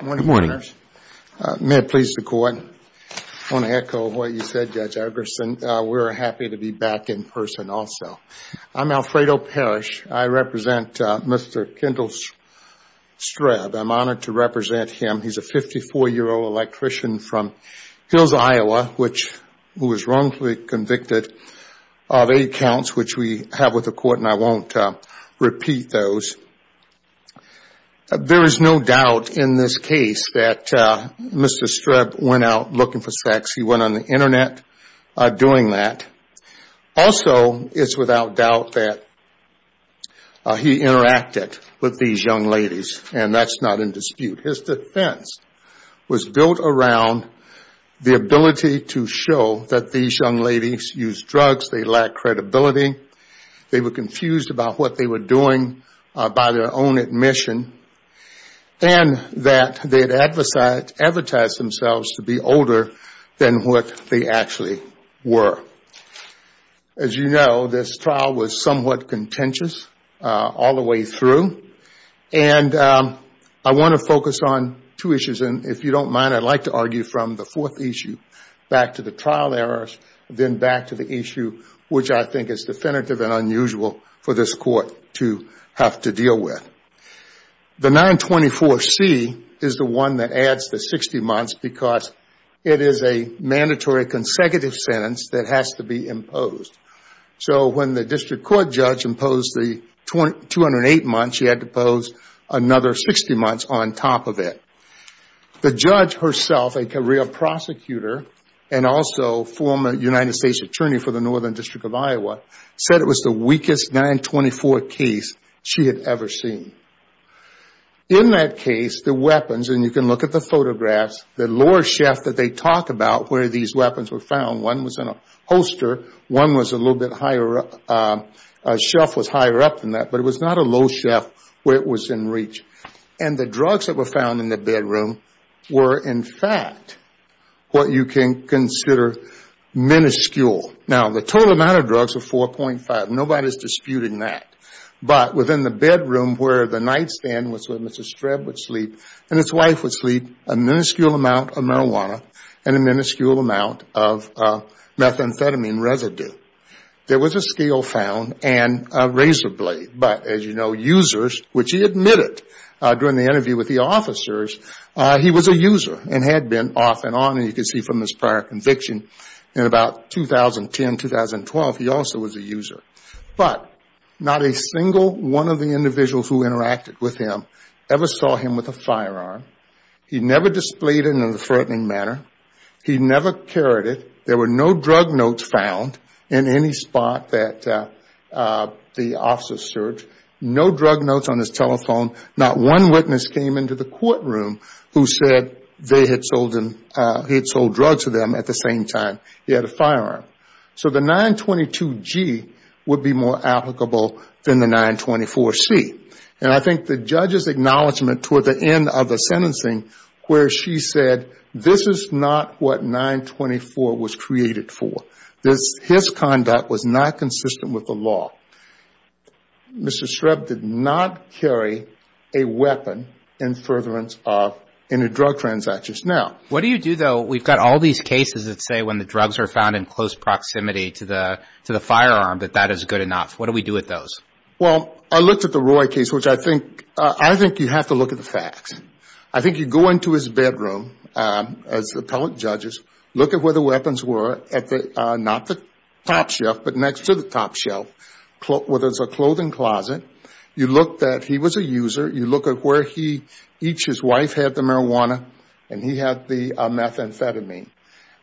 Good morning. May it please the court. I want to echo what you said, Judge Egerson. We're happy to be back in person also. I'm Alfredo Parrish. I represent Mr. Kendall Streb. I'm honored to represent him. He's a 54-year-old electrician from Hills, Iowa, who was wrongfully convicted of eight counts, which we have with the court, and I won't repeat those. There is no doubt in this case that Mr. Streb went out looking for sex. He went on the Internet doing that. Also, it's without doubt that he interacted with these young ladies, and that's not in dispute. His defense was built around the ability to show that these young ladies used drugs, they lacked credibility, they were confused about what they were doing by their own admission, and that they had advertised themselves to be older than what they actually were. As you know, this trial was somewhat contentious all the way through, and I want to focus on two issues, and if you don't mind, I'd like to argue from the fourth issue back to the trial errors, then back to the issue which I think is definitive and unusual for this court to have to deal with. The 924C is the one that adds the 60 months because it is a mandatory consecutive sentence that has to be imposed. When the district court judge imposed the 208 months, she had to impose another 60 months on top of it. The judge herself, a career prosecutor, and also former United States Attorney for the Northern District of Iowa, said it was the weakest 924 case she had ever seen. In that case, the weapons, and you can look at the photographs, the lower shaft that they talk about where these weapons were found, one was in a holster, one was a little bit higher up, a shelf was higher up than that, but it was not a low shaft where it was in reach. And the drugs that were found in the bedroom were, in fact, what you can consider minuscule. Now, the total amount of drugs were 4.5. Nobody is disputing that. But within the bedroom where the nightstand was where Mr. Streb would sleep and his wife would sleep, a minuscule amount of marijuana and a minuscule amount of methamphetamine residue. There was a scale found and a razor blade. But, as you know, users, which he admitted during the interview with the officers, he was a user and had been off and on. And you can see from his prior conviction in about 2010, 2012, he also was a user. But not a single one of the individuals who interacted with him ever saw him with a firearm. He never displayed it in a threatening manner. He never carried it. There were no drug notes found in any spot that the officers searched. No drug notes on his telephone. Not one witness came into the courtroom who said he had sold drugs to them at the same time he had a firearm. So the 922G would be more applicable than the 924C. And I think the judge's acknowledgment toward the end of the sentencing where she said, this is not what 924 was created for. His conduct was not consistent with the law. Mr. Streb did not carry a weapon in furtherance of any drug transactions. Now, what do you do, though? We've got all these cases that say when the drugs are found in close proximity to the firearm that that is good enough. What do we do with those? Well, I looked at the Roy case, which I think you have to look at the facts. I think you go into his bedroom as appellate judges, look at where the weapons were, not the top shelf but next to the top shelf where there's a clothing closet. You look that he was a user. You look at where each his wife had the marijuana and he had the methamphetamine.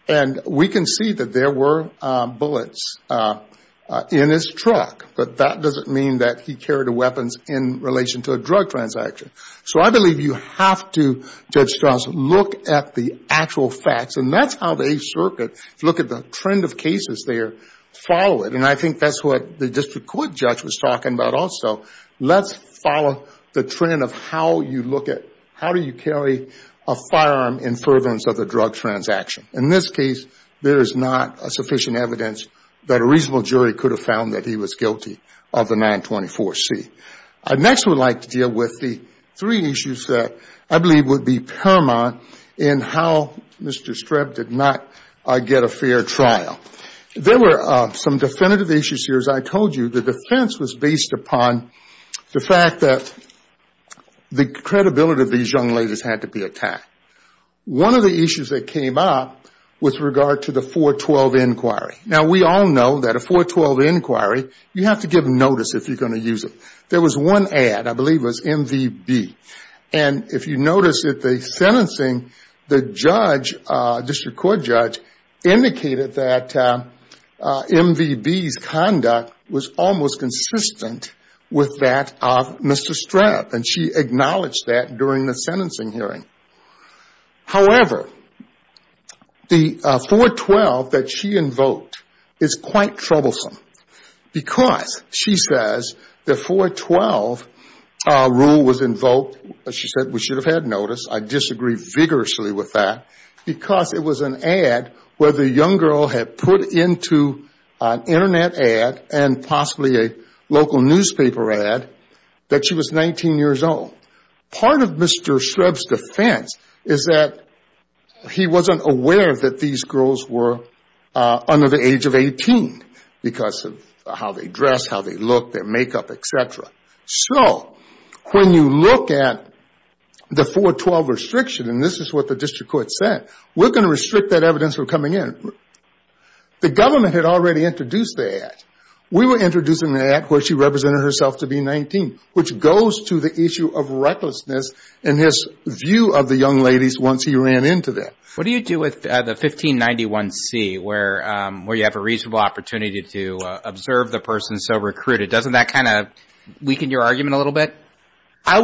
And we can see that there were bullets in his truck. But that doesn't mean that he carried a weapon in relation to a drug transaction. So I believe you have to, Judge Strauss, look at the actual facts. And that's how the Eighth Circuit, if you look at the trend of cases there, follow it. And I think that's what the district court judge was talking about also. Let's follow the trend of how you look at how do you carry a firearm in furtherance of a drug transaction. In this case, there is not sufficient evidence that a reasonable jury could have found that he was guilty of the 924C. I next would like to deal with the three issues that I believe would be paramount in how Mr. Streb did not get a fair trial. There were some definitive issues here. As I told you, the defense was based upon the fact that the credibility of these young ladies had to be attacked. One of the issues that came up was with regard to the 412 inquiry. Now, we all know that a 412 inquiry, you have to give notice if you're going to use it. There was one ad, I believe it was MVB. And if you notice at the sentencing, the judge, district court judge, indicated that MVB's conduct was almost consistent with that of Mr. Streb. And she acknowledged that during the sentencing hearing. However, the 412 that she invoked is quite troublesome. Because, she says, the 412 rule was invoked, she said we should have had notice. I disagree vigorously with that. Because it was an ad where the young girl had put into an Internet ad and possibly a local newspaper ad that she was 19 years old. Part of Mr. Streb's defense is that he wasn't aware that these girls were under the age of 18. Because of how they dress, how they look, their makeup, etc. So, when you look at the 412 restriction, and this is what the district court said, we're going to restrict that evidence from coming in. The government had already introduced the ad. We were introducing the ad where she represented herself to be 19, which goes to the issue of recklessness in his view of the young ladies once he ran into that. What do you do with the 1591C, where you have a reasonable opportunity to observe the person so recruited? Doesn't that kind of weaken your argument a little bit? I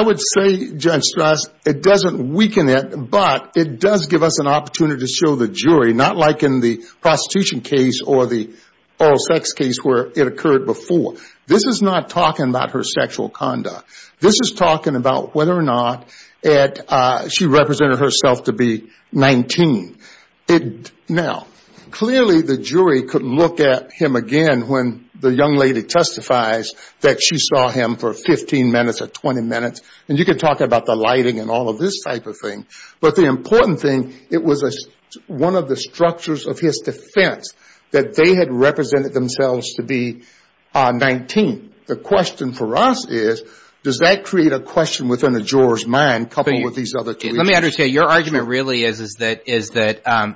would say, Judge Strass, it doesn't weaken it, but it does give us an opportunity to show the jury. Not like in the prostitution case or the oral sex case where it occurred before. This is not talking about her sexual conduct. This is talking about whether or not she represented herself to be 19. Now, clearly the jury could look at him again when the young lady testifies that she saw him for 15 minutes or 20 minutes. And you could talk about the lighting and all of this type of thing. But the important thing, it was one of the structures of his defense that they had represented themselves to be 19. The question for us is, does that create a question within a juror's mind coupled with these other two issues? Let me understand. Your argument really is that,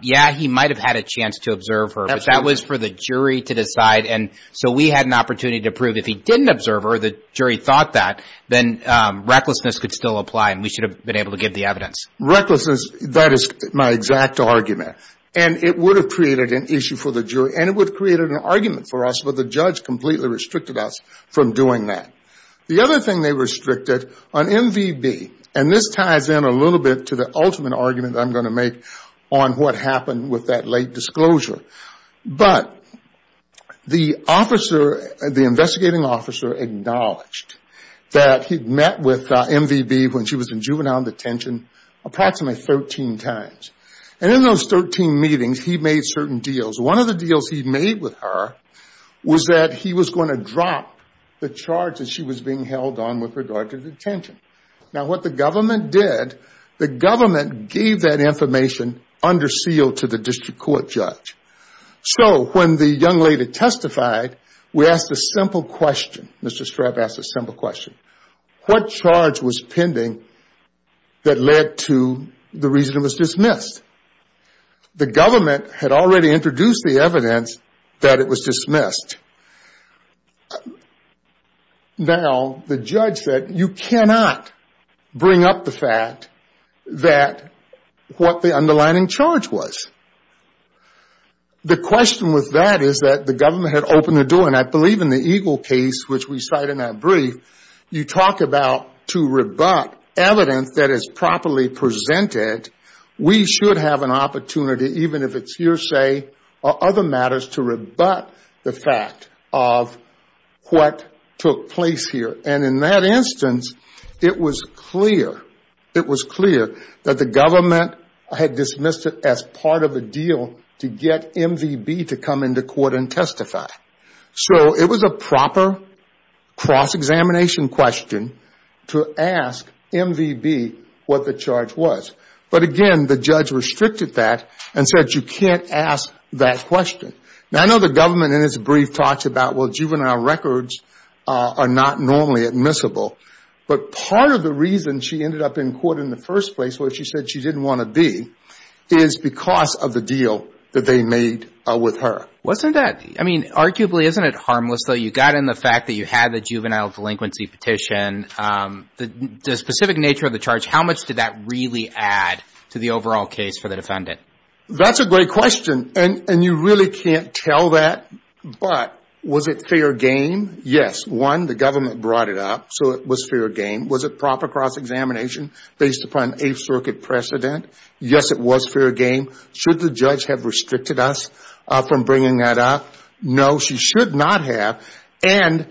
yeah, he might have had a chance to observe her, but that was for the jury to decide. And so we had an opportunity to prove if he didn't observe her, the jury thought that, then recklessness could still apply and we should have been able to give the evidence. Recklessness, that is my exact argument. And it would have created an issue for the jury and it would have created an argument for us, but the judge completely restricted us from doing that. The other thing they restricted on MVB, and this ties in a little bit to the ultimate argument I'm going to make on what happened with that late disclosure. But the investigating officer acknowledged that he'd met with MVB when she was in juvenile detention approximately 13 times. And in those 13 meetings, he made certain deals. One of the deals he made with her was that he was going to drop the charge that she was being held on with regard to detention. Now, what the government did, the government gave that information under seal to the district court judge. So when the young lady testified, we asked a simple question. Mr. Strep asked a simple question. What charge was pending that led to the reason it was dismissed? The government had already introduced the evidence that it was dismissed. Now, the judge said, you cannot bring up the fact that what the underlining charge was. The question with that is that the government had opened the door. And I believe in the Eagle case, which we cite in that brief, you talk about to rebut evidence that is properly presented. We should have an opportunity, even if it's hearsay or other matters, to rebut the fact of what took place here. And in that instance, it was clear that the government had dismissed it as part of a deal to get MVB to come into court and testify. So it was a proper cross-examination question to ask MVB what the charge was. But again, the judge restricted that and said, you can't ask that question. Now, I know the government in its brief talks about, well, juvenile records are not normally admissible. But part of the reason she ended up in court in the first place where she said she didn't want to be is because of the deal that they made with her. Wasn't that – I mean, arguably, isn't it harmless, though? You got in the fact that you had the juvenile delinquency petition. The specific nature of the charge, how much did that really add to the overall case for the defendant? That's a great question. And you really can't tell that. But was it fair game? Yes. One, the government brought it up, so it was fair game. Was it proper cross-examination based upon Eighth Circuit precedent? Yes, it was fair game. Should the judge have restricted us from bringing that up? No, she should not have. And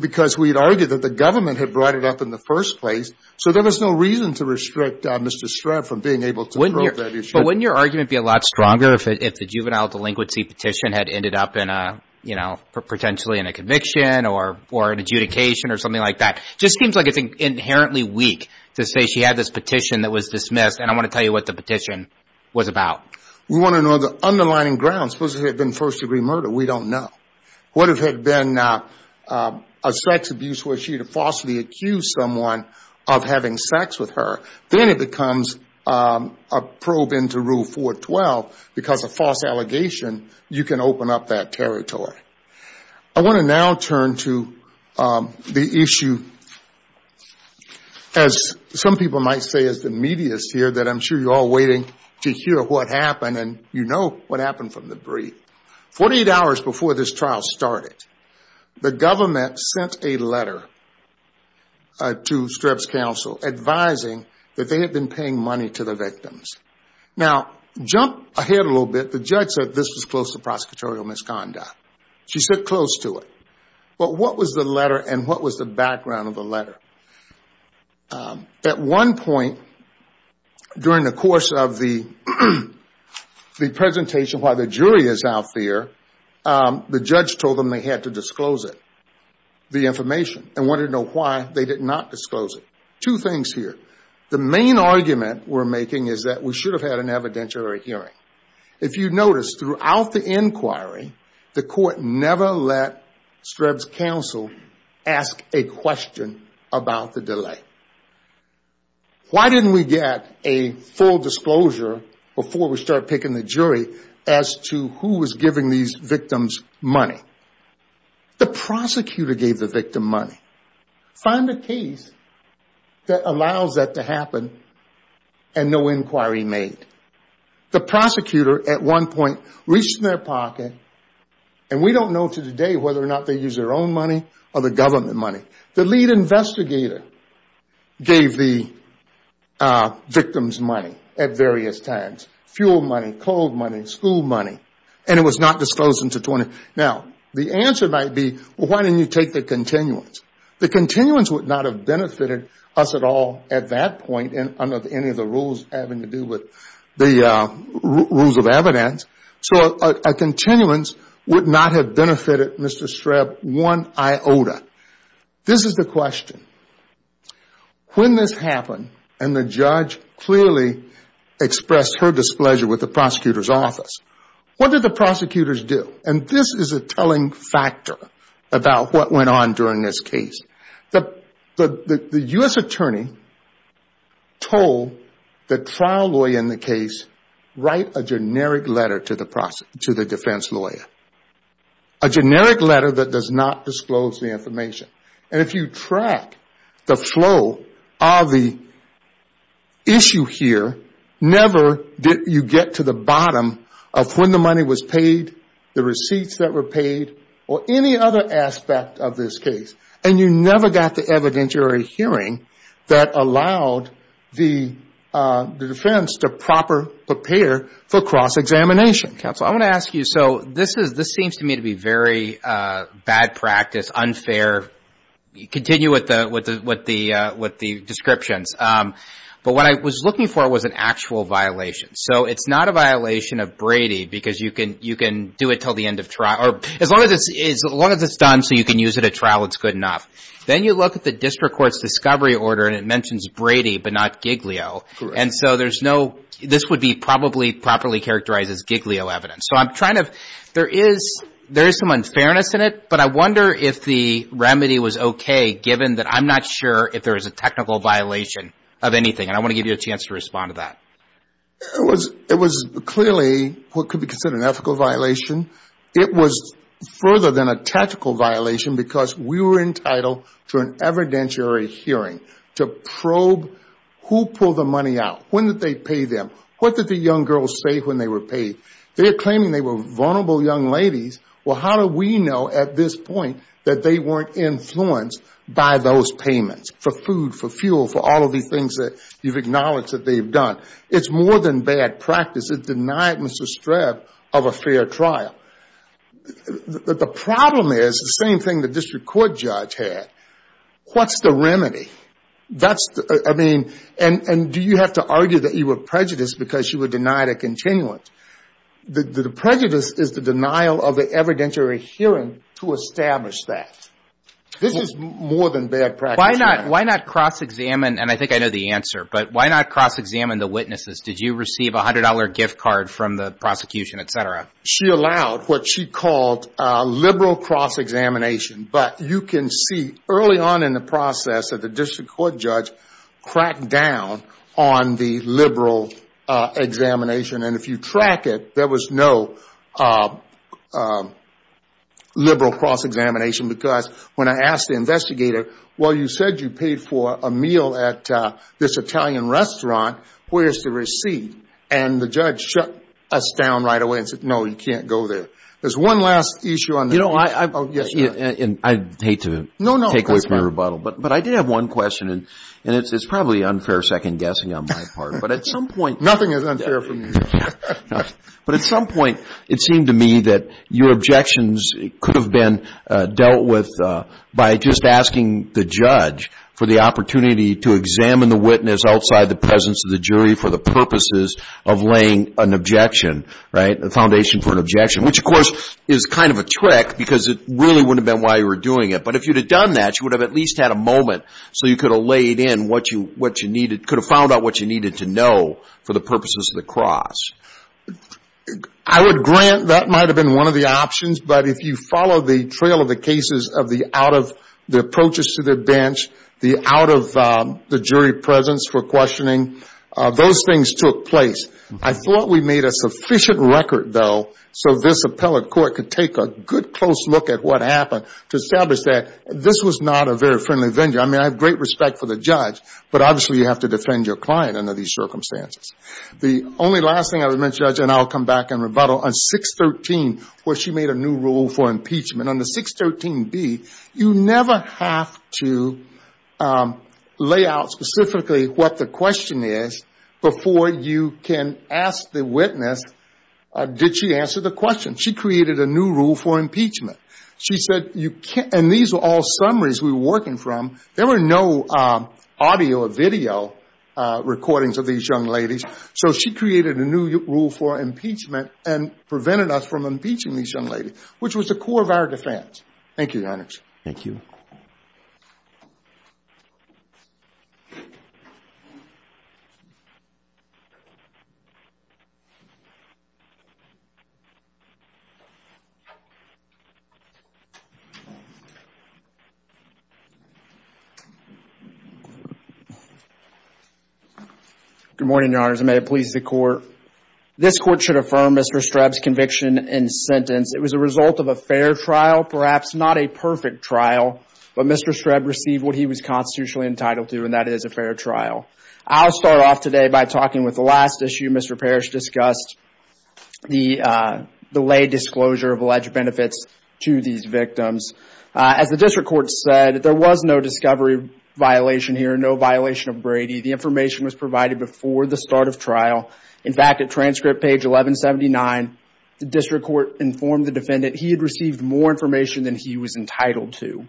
because we had argued that the government had brought it up in the first place, so there was no reason to restrict Mr. Shreve from being able to probe that issue. But wouldn't your argument be a lot stronger if the juvenile delinquency petition had ended up in a, you know, potentially in a conviction or an adjudication or something like that? It just seems like it's inherently weak to say she had this petition that was dismissed, and I want to tell you what the petition was about. We want to know the underlying grounds. Suppose it had been first-degree murder. We don't know. What if it had been a sex abuse where she had falsely accused someone of having sex with her? Then it becomes a probe into Rule 412 because a false allegation, you can open up that territory. I want to now turn to the issue, as some people might say as the medias here, that I'm sure you're all waiting to hear what happened, and you know what happened from the brief. Forty-eight hours before this trial started, the government sent a letter to Shreve's counsel advising that they had been paying money to the victims. Now, jump ahead a little bit. The judge said this was close to prosecutorial misconduct. She said close to it. But what was the letter, and what was the background of the letter? At one point during the course of the presentation while the jury is out there, the judge told them they had to disclose it, the information, and wanted to know why they did not disclose it. Two things here. The main argument we're making is that we should have had an evidentiary hearing. If you notice, throughout the inquiry, the court never let Shreve's counsel ask a question about the delay. Why didn't we get a full disclosure before we start picking the jury as to who was giving these victims money? The prosecutor gave the victim money. Find a case that allows that to happen and no inquiry made. The prosecutor at one point reached in their pocket, and we don't know to this day whether or not they used their own money or the government money. The lead investigator gave the victims money at various times, fuel money, coal money, school money, and it was not disclosed until 20. The answer might be, why didn't you take the continuance? The continuance would not have benefited us at all at that point, under any of the rules having to do with the rules of evidence. A continuance would not have benefited Mr. Shreve one iota. This is the question. When this happened and the judge clearly expressed her displeasure with the prosecutor's office, what did the prosecutors do? And this is a telling factor about what went on during this case. The U.S. attorney told the trial lawyer in the case, write a generic letter to the defense lawyer, a generic letter that does not disclose the information. And if you track the flow of the issue here, never did you get to the bottom of when the money was paid, the receipts that were paid, or any other aspect of this case. And you never got the evidentiary hearing that allowed the defense to proper prepare for cross-examination. Counsel, I want to ask you, so this seems to me to be very bad practice, unfair. Continue with the descriptions. But what I was looking for was an actual violation. So it's not a violation of Brady because you can do it until the end of trial. Or as long as it's done so you can use it at trial, it's good enough. Then you look at the district court's discovery order and it mentions Brady but not Giglio. Correct. And so there's no, this would be probably properly characterized as Giglio evidence. So I'm trying to, there is some unfairness in it, but I wonder if the remedy was okay given that I'm not sure if there is a technical violation of anything. And I want to give you a chance to respond to that. It was clearly what could be considered an ethical violation. It was further than a tactical violation because we were entitled to an evidentiary hearing to probe who pulled the money out. When did they pay them? What did the young girls say when they were paid? They're claiming they were vulnerable young ladies. Well, how do we know at this point that they weren't influenced by those payments for food, for fuel, for all of these things that you've acknowledged that they've done? It's more than bad practice. It denied Mr. Streb of a fair trial. The problem is the same thing the district court judge had. What's the remedy? That's, I mean, and do you have to argue that you were prejudiced because you were denied a continuance? The prejudice is the denial of the evidentiary hearing to establish that. This is more than bad practice. Why not cross-examine, and I think I know the answer, but why not cross-examine the witnesses? Did you receive a $100 gift card from the prosecution, et cetera? She allowed what she called liberal cross-examination, but you can see early on in the process that the district court judge cracked down on the liberal examination. And if you track it, there was no liberal cross-examination because when I asked the investigator, well, you said you paid for a meal at this Italian restaurant. Where's the receipt? And the judge shut us down right away and said, no, you can't go there. There's one last issue on the case. You know, I hate to take away from your rebuttal, but I did have one question, Nothing is unfair for me. But at some point it seemed to me that your objections could have been dealt with by just asking the judge for the opportunity to examine the witness outside the presence of the jury for the purposes of laying an objection, right, a foundation for an objection, which, of course, is kind of a trick because it really wouldn't have been why you were doing it. But if you'd have done that, you would have at least had a moment so you could have laid in what you needed, could have found out what you needed to know for the purposes of the cross. I would grant that might have been one of the options. But if you follow the trail of the cases of the out of the approaches to the bench, the out of the jury presence for questioning, those things took place. I thought we made a sufficient record, though, so this appellate court could take a good, close look at what happened to establish that this was not a very friendly venture. I mean, I have great respect for the judge, but obviously you have to defend your client under these circumstances. The only last thing I would mention, and I'll come back and rebuttal, on 613 where she made a new rule for impeachment, on the 613B you never have to lay out specifically what the question is before you can ask the witness did she answer the question. She created a new rule for impeachment. And these are all summaries we were working from. There were no audio or video recordings of these young ladies. So she created a new rule for impeachment and prevented us from impeaching these young ladies, which was the core of our defense. Thank you, Your Honors. Thank you. Good morning, Your Honors, and may it please the Court. This Court should affirm Mr. Streb's conviction and sentence. It was a result of a fair trial, perhaps not a perfect trial, but Mr. Streb received what he was constitutionally entitled to, and that is a fair trial. I'll start off today by talking with the last issue Mr. Parrish discussed, the lay disclosure of alleged benefits to these victims. As the District Court said, there was no discovery violation here, no violation of Brady. The information was provided before the start of trial. In fact, at transcript page 1179, the District Court informed the defendant he had received more information than he was entitled to.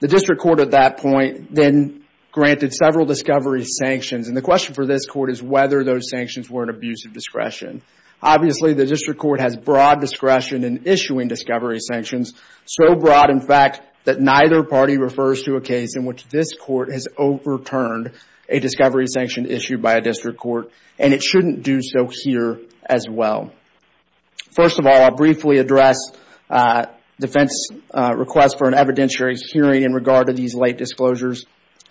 The District Court at that point then granted several discovery sanctions, and the question for this Court is whether those sanctions were an abuse of discretion. Obviously, the District Court has broad discretion in issuing discovery sanctions, so broad, in fact, that neither party refers to a case in which this Court has overturned a discovery sanction issued by a District Court, and it shouldn't do so here as well. First of all, I'll briefly address defense's request for an evidentiary hearing in regard to these lay disclosures.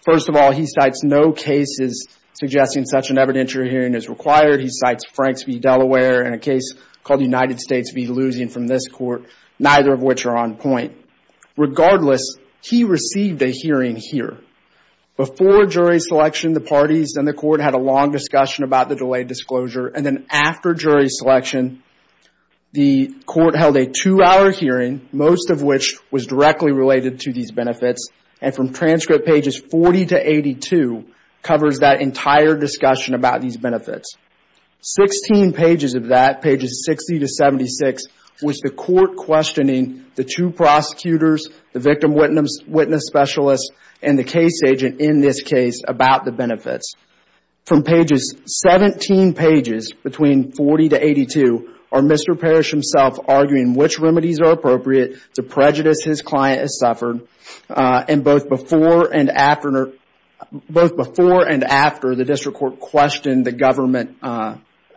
First of all, he cites no cases suggesting such an evidentiary hearing is required. He cites Franks v. Delaware in a case called United States v. Losing from this Court, neither of which are on point. Regardless, he received a hearing here. Before jury selection, the parties and the Court had a long discussion about the delayed disclosure, and then after jury selection, the Court held a two-hour hearing, most of which was directly related to these benefits, and from transcript pages 40 to 82 covers that entire discussion about these benefits. Sixteen pages of that, pages 60 to 76, was the Court questioning the two prosecutors, the victim witness specialists, and the case agent in this case about the benefits. From pages 17 pages, between 40 to 82, are Mr. Parrish himself arguing which remedies are appropriate to prejudice his client has suffered, and both before and after the District Court questioned the government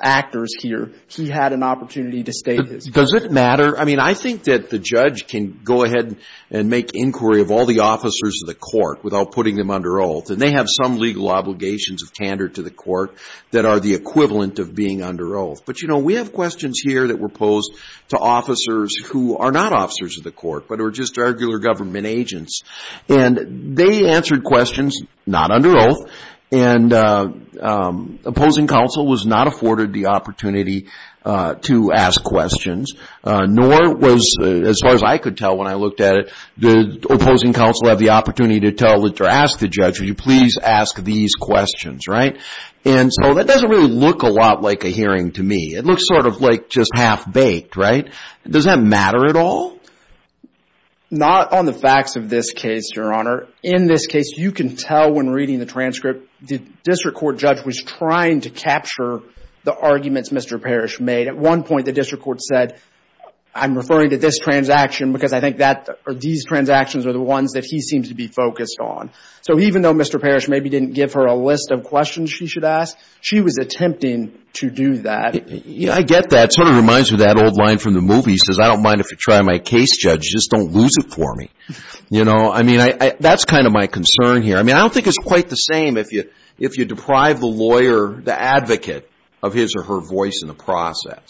actors here, he had an opportunity to state his point. Does it matter? I mean, I think that the judge can go ahead and make inquiry of all the officers of the Court without putting them under oath, and they have some legal obligations of candor to the Court that are the equivalent of being under oath. But, you know, we have questions here that were posed to officers who are not officers of the Court, but are just regular government agents, and they answered questions not under oath, and opposing counsel was not afforded the opportunity to ask questions, nor was, as far as I could tell when I looked at it, did opposing counsel have the opportunity to tell or ask the judge, will you please ask these questions, right? And so that doesn't really look a lot like a hearing to me. It looks sort of like just half-baked, right? Does that matter at all? Not on the facts of this case, Your Honor. In this case, you can tell when reading the transcript, the District Court judge was trying to capture the arguments Mr. Parrish made. At one point, the District Court said, I'm referring to this transaction because I think these transactions are the ones that he seems to be focused on. So even though Mr. Parrish maybe didn't give her a list of questions she should ask, she was attempting to do that. I get that. It sort of reminds me of that old line from the movie. It says, I don't mind if you try my case, Judge, just don't lose it for me. You know, I mean, that's kind of my concern here. I mean, I don't think it's quite the same if you deprive the lawyer, the advocate, of his or her voice in the process.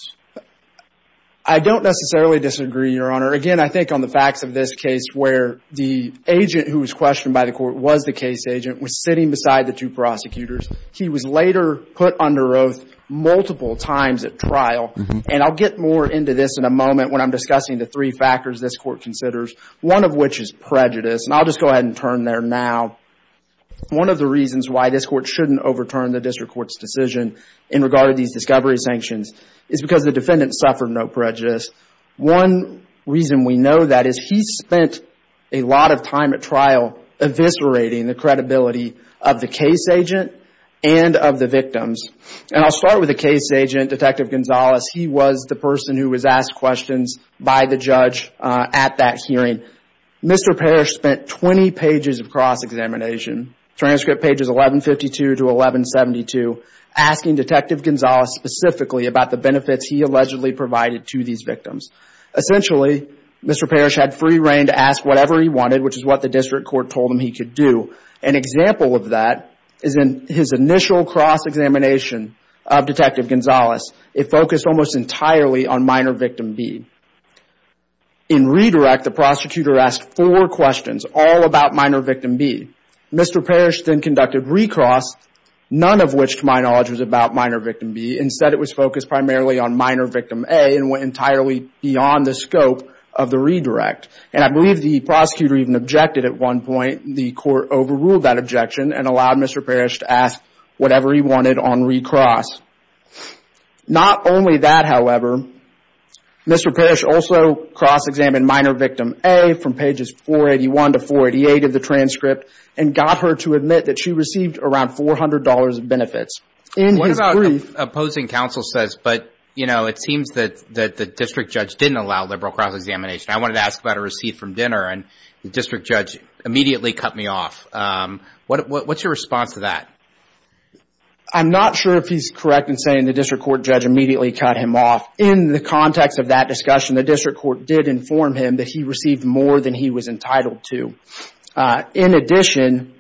I don't necessarily disagree, Your Honor. Again, I think on the facts of this case where the agent who was questioned by the court was the case agent was sitting beside the two prosecutors. He was later put under oath multiple times at trial. And I'll get more into this in a moment when I'm discussing the three factors this court considers, one of which is prejudice. And I'll just go ahead and turn there now. One of the reasons why this court shouldn't overturn the District Court's decision in regard to these discovery sanctions is because the defendant suffered no prejudice. One reason we know that is he spent a lot of time at trial eviscerating the credibility of the case agent and of the victims. And I'll start with the case agent, Detective Gonzalez. He was the person who was asked questions by the judge at that hearing. Mr. Parrish spent 20 pages of cross-examination, transcript pages 1152 to 1172, asking Detective Gonzalez specifically about the benefits he allegedly provided to these victims. Essentially, Mr. Parrish had free reign to ask whatever he wanted, which is what the District Court told him he could do. An example of that is in his initial cross-examination of Detective Gonzalez. It focused almost entirely on Minor Victim B. In redirect, the prosecutor asked four questions, all about Minor Victim B. Mr. Parrish then conducted recross, none of which, to my knowledge, was about Minor Victim B. Instead, it was focused primarily on Minor Victim A and went entirely beyond the scope of the redirect. And I believe the prosecutor even objected at one point. The court overruled that objection and allowed Mr. Parrish to ask whatever he wanted on recross. Not only that, however, Mr. Parrish also cross-examined Minor Victim A from pages 481 to 488 of the transcript and got her to admit that she received around $400 of benefits. What about opposing counsel says, but, you know, it seems that the district judge didn't allow liberal cross-examination. I wanted to ask about a receipt from dinner and the district judge immediately cut me off. What's your response to that? I'm not sure if he's correct in saying the district court judge immediately cut him off. In the context of that discussion, the district court did inform him that he received more than he was entitled to. In addition,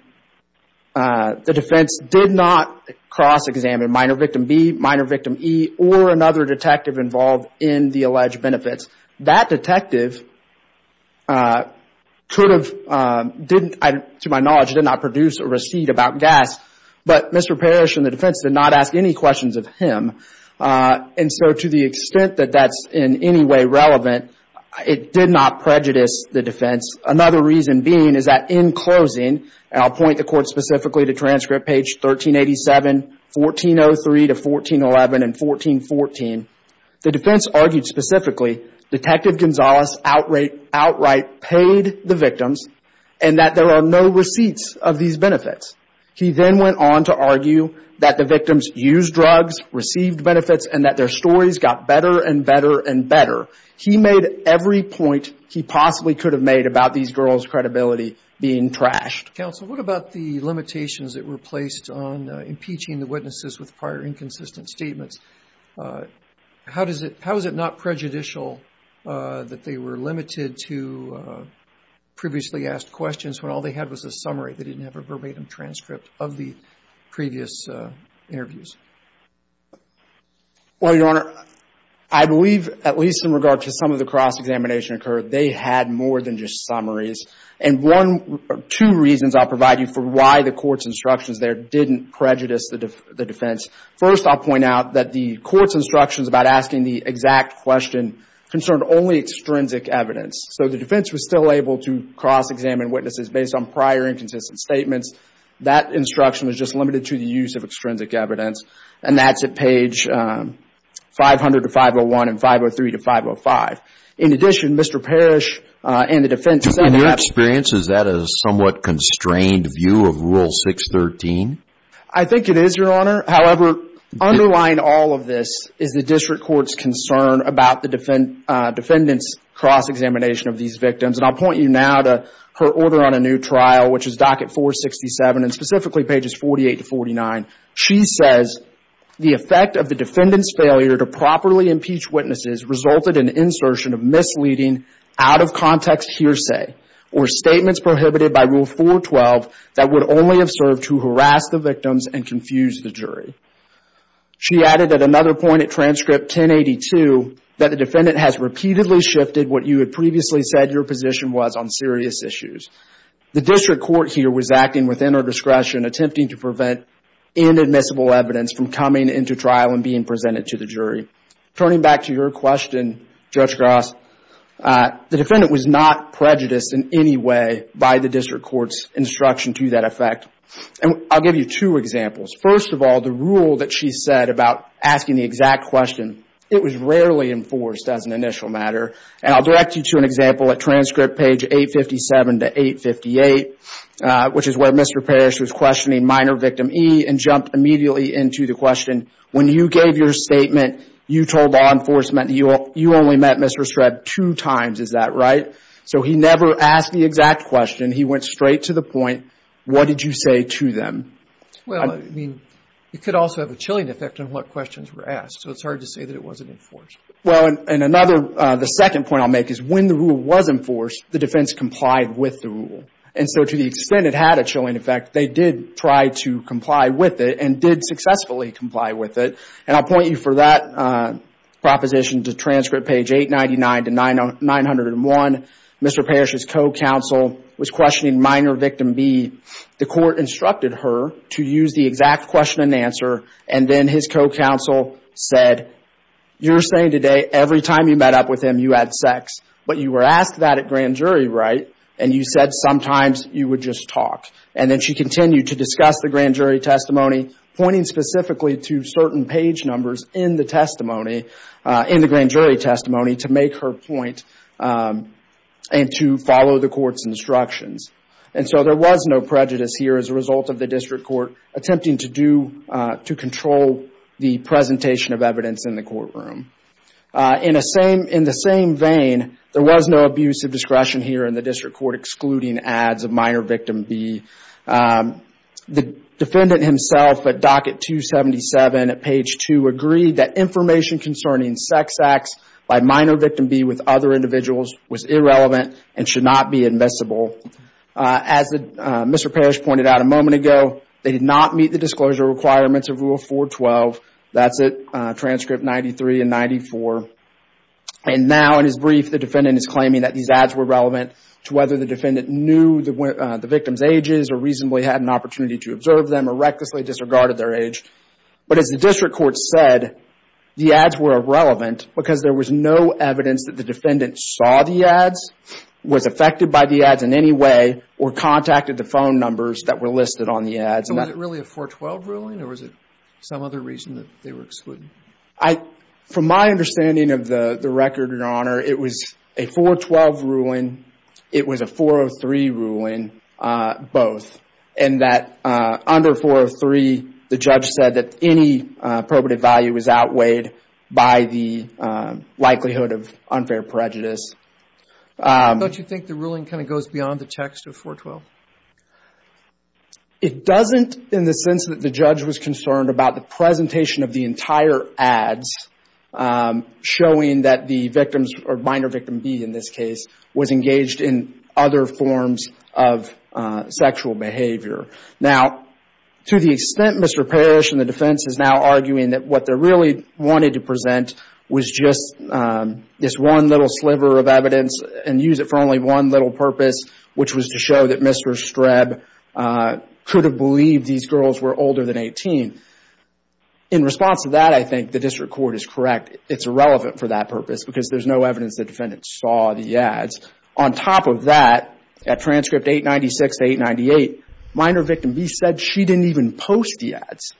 the defense did not cross-examine Minor Victim B, Minor Victim E, or another detective involved in the alleged benefits. That detective could have, to my knowledge, did not produce a receipt about gas. But Mr. Parrish and the defense did not ask any questions of him. And so to the extent that that's in any way relevant, it did not prejudice the defense. Another reason being is that in closing, and I'll point the court specifically to transcript page 1387, 1403 to 1411 and 1414, the defense argued specifically Detective Gonzalez outright paid the victims and that there are no receipts of these benefits. He then went on to argue that the victims used drugs, received benefits, and that their stories got better and better and better. He made every point he possibly could have made about these girls' credibility being trashed. Counsel, what about the limitations that were placed on impeaching the witnesses with prior inconsistent statements? How is it not prejudicial that they were limited to previously asked questions when all they had was a summary? They didn't have a verbatim transcript of the previous interviews. Well, Your Honor, I believe at least in regard to some of the cross-examination occurred, they had more than just summaries. And two reasons I'll provide you for why the court's instructions there didn't prejudice the defense. First, I'll point out that the court's instructions about asking the exact question concerned only extrinsic evidence. So the defense was still able to cross-examine witnesses based on prior inconsistent statements. That instruction was just limited to the use of extrinsic evidence. And that's at page 500 to 501 and 503 to 505. In addition, Mr. Parrish and the defense said that... In your experience, is that a somewhat constrained view of Rule 613? I think it is, Your Honor. However, underlying all of this is the district court's concern about the defendant's cross-examination of these victims. And I'll point you now to her order on a new trial, which is Docket 467, and specifically pages 48 to 49. She says, She added at another point, at transcript 1082, that the defendant has repeatedly shifted what you had previously said your position was on serious issues. The district court here was acting within her discretion, attempting to prevent inadmissible evidence from coming into trial and being presented to the jury. Turning back to your question, Judge Gross, the defendant was not prejudiced in any way by the district court's instruction to that effect. And I'll give you two examples. First of all, the rule that she said about asking the exact question, it was rarely enforced as an initial matter. And I'll direct you to an example at transcript page 857 to 858, which is where Mr. Parrish was questioning minor victim E and jumped immediately into the question, when you gave your statement, you told law enforcement you only met Mr. Streb two times. Is that right? So he never asked the exact question. He went straight to the point, what did you say to them? Well, I mean, it could also have a chilling effect on what questions were asked. So it's hard to say that it wasn't enforced. Well, and another, the second point I'll make is when the rule was enforced, the defense complied with the rule. And so to the extent it had a chilling effect, they did try to comply with it and did successfully comply with it. And I'll point you for that proposition to transcript page 899 to 901. Mr. Parrish's co-counsel was questioning minor victim B. The court instructed her to use the exact question and answer. And then his co-counsel said, you're saying today every time you met up with him you had sex, but you were asked that at grand jury, right? And you said sometimes you would just talk. And then she continued to discuss the grand jury testimony, pointing specifically to certain page numbers in the testimony, in the grand jury testimony to make her point and to follow the court's instructions. And so there was no prejudice here as a result of the district court attempting to do, to control the presentation of evidence in the courtroom. In the same vein, there was no abuse of discretion here in the district court excluding ads of minor victim B. The defendant himself at docket 277 at page 2 agreed that information concerning sex acts by minor victim B with other individuals was irrelevant and should not be admissible. As Mr. Parrish pointed out a moment ago, they did not meet the disclosure requirements of Rule 412. That's at transcript 93 and 94. And now in his brief, the defendant is claiming that these ads were relevant to whether the defendant knew the victim's ages or reasonably had an opportunity to observe them or recklessly disregarded their age. But as the district court said, the ads were irrelevant because there was no evidence that the defendant saw the ads, was affected by the ads in any way, or contacted the phone numbers that were listed on the ads. It was a 412 ruling. It was a 403 ruling. Both. And that under 403, the judge said that any probative value was outweighed by the likelihood of unfair prejudice. But you think the ruling kind of goes beyond the text of 412? It doesn't in the sense that the judge was concerned about the presentation of the entire ads showing that the victims, or minor victim B in this case, was engaged in other forms of sexual behavior. Now, to the extent Mr. Parrish and the defense is now arguing that what they really wanted to present was just this one little sliver of evidence and use it for only one little purpose, which was to show that Mr. Streb could have believed these girls were older than 18. In response to that, I think the district court is correct. It's irrelevant for that purpose because there's no evidence the defendant saw the ads. On top of that, at transcript 896 to 898, minor victim B said she didn't even post the ads.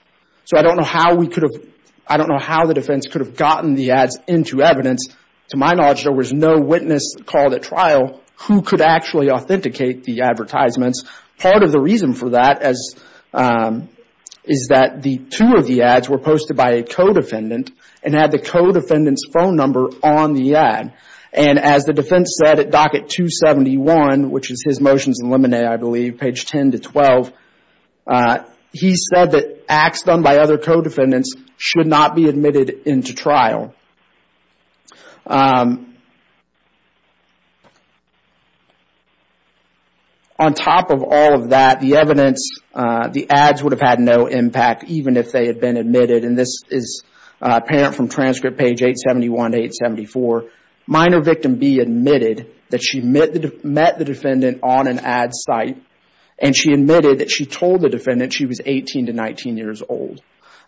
So I don't know how we could have, I don't know how the defense could have gotten the ads into evidence. To my knowledge, there was no witness called for the trial who could actually authenticate the advertisements. Part of the reason for that is that two of the ads were posted by a co-defendant and had the co-defendant's phone number on the ad. And as the defense said at docket 271, which is his motions and lemonade, I believe, page 10 to 12, he said that acts done by other co-defendants should not be admitted into trial. On top of all of that, the evidence, the ads would have had no impact even if they had been admitted. And this is apparent from transcript page 871 to 874. Minor victim B admitted that she met the defendant on an ad site and she admitted that she told the defendant she was 18 to 19 years old.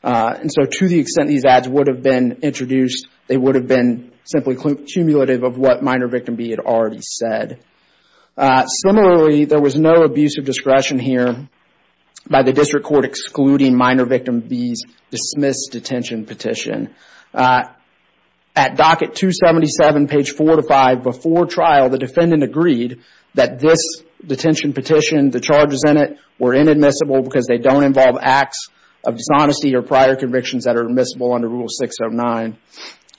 And so to the extent these ads would have been introduced, they would have been simply cumulative of what minor victim B had already said. Similarly, there was no abuse of discretion here by the district court excluding minor victim B's dismissed detention petition. At docket 277, page 4 to 5, before trial, the defendant agreed that this detention petition, the charges in it, were inadmissible because they don't involve acts of dishonesty or prior convictions that are admissible under Rule 609.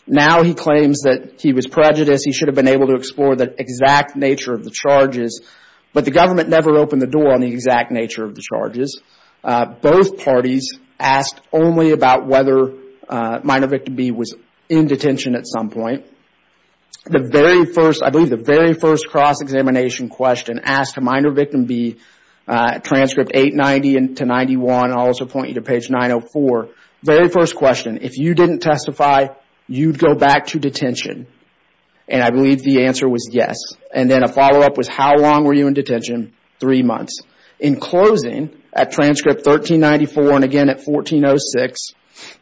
Now he claims that he was prejudiced. He should have been able to explore the exact nature of the charges, but the government never opened the door on the exact nature of the charges. Both parties asked only about whether minor victim B was in detention at some point. I believe the very first cross-examination question asked minor victim B, transcript 890 to 891, and I'll also point you to page 904, very first question, if you didn't testify, you'd go back to detention. And I believe the answer was yes. And then a follow-up was how long were you in detention? Three months. In closing, at transcript 1394 and again at 1406,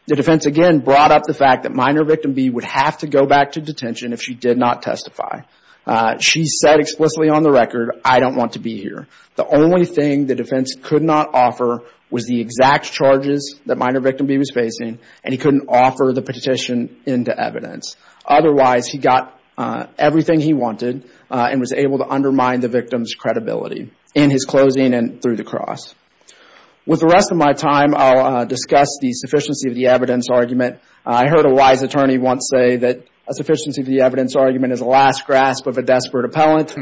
the defense again brought up the fact that minor victim B would have to go back to detention if she did not testify. She said explicitly on the record, I don't want to be here. The only thing the defense could not offer was the exact charges that minor victim B was facing, and he couldn't offer the petition into evidence. Otherwise, he got everything he wanted and was able to undermine the victim's With the rest of my time, I'll discuss the sufficiency of the evidence argument. I heard a wise attorney once say that a sufficiency of the evidence argument is a last grasp of a desperate appellant.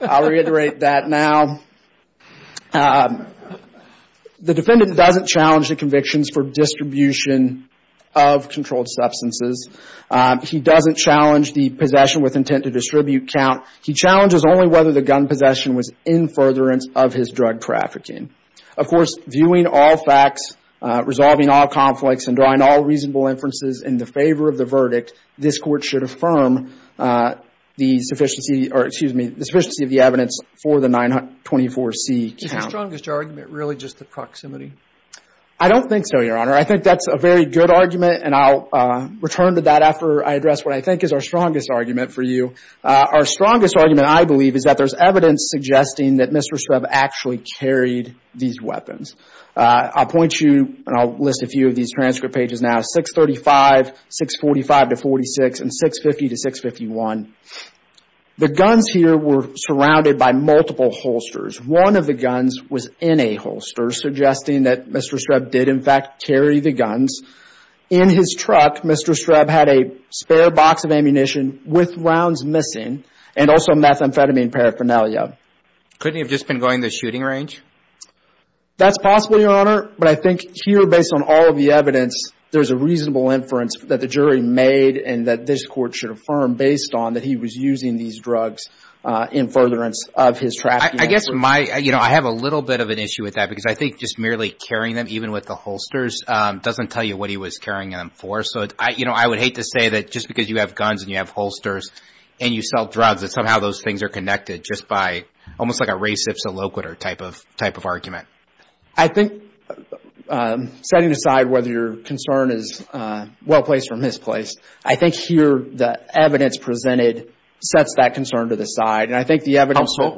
I'll reiterate that now. The defendant doesn't challenge the convictions for distribution of controlled substances. He doesn't challenge the possession with intent to distribute count. He challenges only whether the gun possession was in furtherance of his drug trafficking. Of course, viewing all facts, resolving all conflicts, and drawing all reasonable inferences in the favor of the verdict, this Court should affirm the sufficiency of the evidence for the 924C count. Is the strongest argument really just the proximity? I don't think so, Your Honor. I think that's a very good argument, and I'll return to that after I address what I think is our strongest argument for you. Our strongest argument, I believe, is that there's evidence suggesting that Mr. Streb actually carried these weapons. I'll point you, and I'll list a few of these transcript pages now, 635, 645-46, and 650-651. The guns here were surrounded by multiple holsters. One of the guns was in a holster, suggesting that Mr. Streb did, in fact, carry the guns. In his truck, Mr. Streb had a spare box of ammunition with rounds missing, and also methamphetamine paraphernalia. Couldn't he have just been going the shooting range? That's possible, Your Honor, but I think here, based on all of the evidence, there's a reasonable inference that the jury made and that this Court should affirm based on that he was using these with that, because I think just merely carrying them, even with the holsters, doesn't tell you what he was carrying them for. I would hate to say that just because you have guns and you have holsters and you sell drugs, that somehow those things are connected, just by almost like a race-ifs-a-loquitur type of argument. I think, setting aside whether your concern is well-placed or misplaced, I think here the evidence presented sets that concern to the side, and I think the evidence... Guns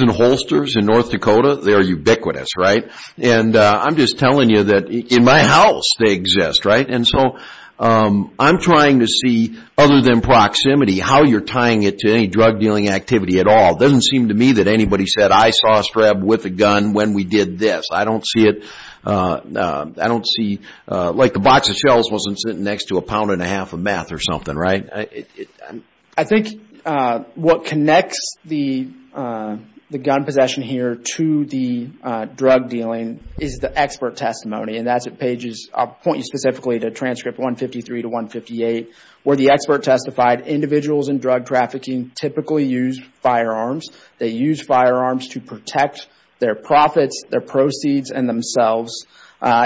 and holsters in North Dakota, they're ubiquitous, right? I'm just telling you that in my house they exist, right? I'm trying to see, other than proximity, how you're tying it to any drug-dealing activity at all. It doesn't seem to me that anybody said, I saw Streb with a gun when we did this. I don't see it, like the box of shells wasn't sitting next to a pound and a half of meth or something, right? I think what connects the gun possession here to the drug-dealing is the expert testimony, and that's at pages, I'll point you specifically to transcript 153 to 158, where the expert testified, individuals in drug trafficking typically use firearms. They use firearms to protect their profits, their proceeds, and themselves.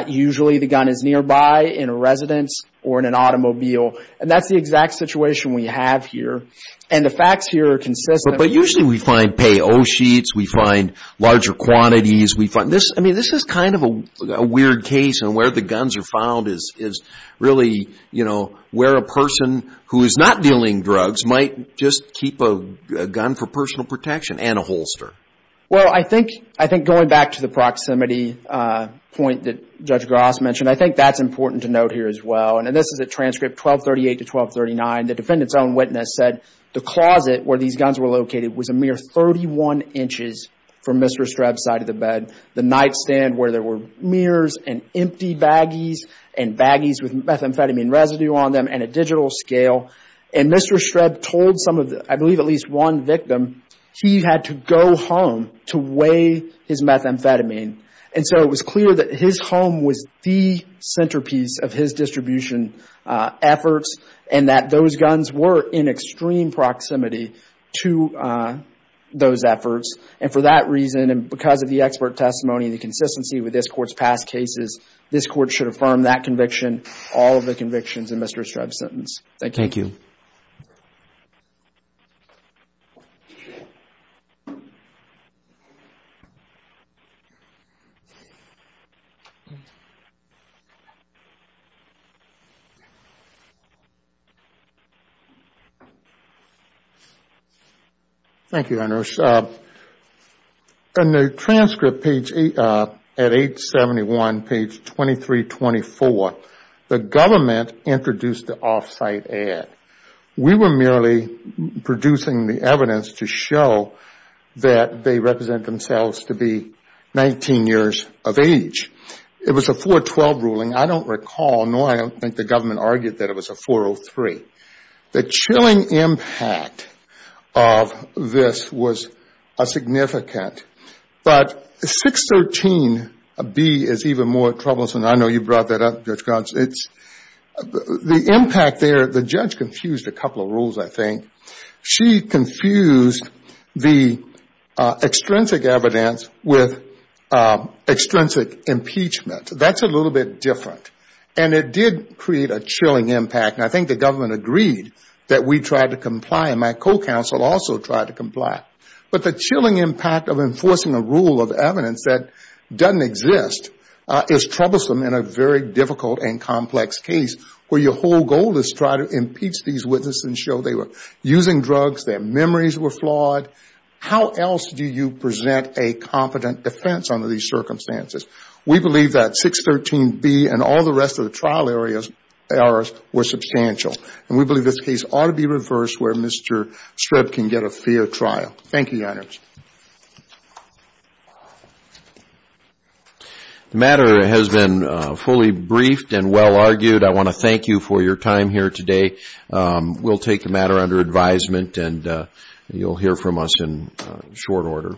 Usually the gun is nearby in a residence or in an automobile, and that's the exact situation we have here, and the facts here are consistent... But usually we find pay-oh sheets, we find larger quantities, we find... This is kind of a weird case, and where the guns are found is really where a person who is not dealing drugs might just keep a gun for personal protection and a holster. Well, I think going back to the proximity point that Judge Gross mentioned, I think that's important to note here as well, and this is a transcript, 1238 to 1239. The defendant's own witness said the closet where these guns were located was a mere 31 inches from Mr. Streb's side of the bed. The nightstand where there were mirrors and empty baggies, and baggies with methamphetamine residue on them, and a digital scale, and Mr. Streb told some of the... I believe at least one victim, he had to go home to weigh his methamphetamine. And so it was clear that his home was the centerpiece of his distribution efforts, and that those guns were in extreme proximity to those efforts, and for that reason, and because of the expert testimony and the consistency with this Court's past cases, this Court should affirm that conviction, all of the convictions in Mr. Streb's sentence. Thank you. Thank you, Your Honor. In the transcript at 871, page 2324, the government introduced the off-site ad. We were merely producing the evidence to show that they represent themselves to be 19 years of age. It was a 412 ruling. I don't recall, nor I don't think the government argued that it was a 403. The chilling impact of this was significant, but 613B is even more troublesome. I know you brought that up, Judge Gantz. The impact there, the judge confused a couple of rules, I think. She confused the extrinsic evidence with extrinsic impeachment. That's a little bit different, and it did create a chilling impact, and I think the government agreed that we tried to comply, and my co-counsel also tried to comply. But the chilling impact of enforcing a rule of evidence that doesn't exist is troublesome in a very difficult and complex case, where your whole goal is to try to impeach these witnesses and show they were using drugs, their memories were flawed. How else do you present a competent defense under these circumstances? We believe that 613B and all the rest of the trial errors were substantial, and we believe this case ought to be reversed where Mr. Streb can get a fair trial. Thank you, Your Honors. The matter has been fully briefed and well-argued. I want to thank you for your time here today. We'll take the matter under advisement, and you'll hear from us in short order.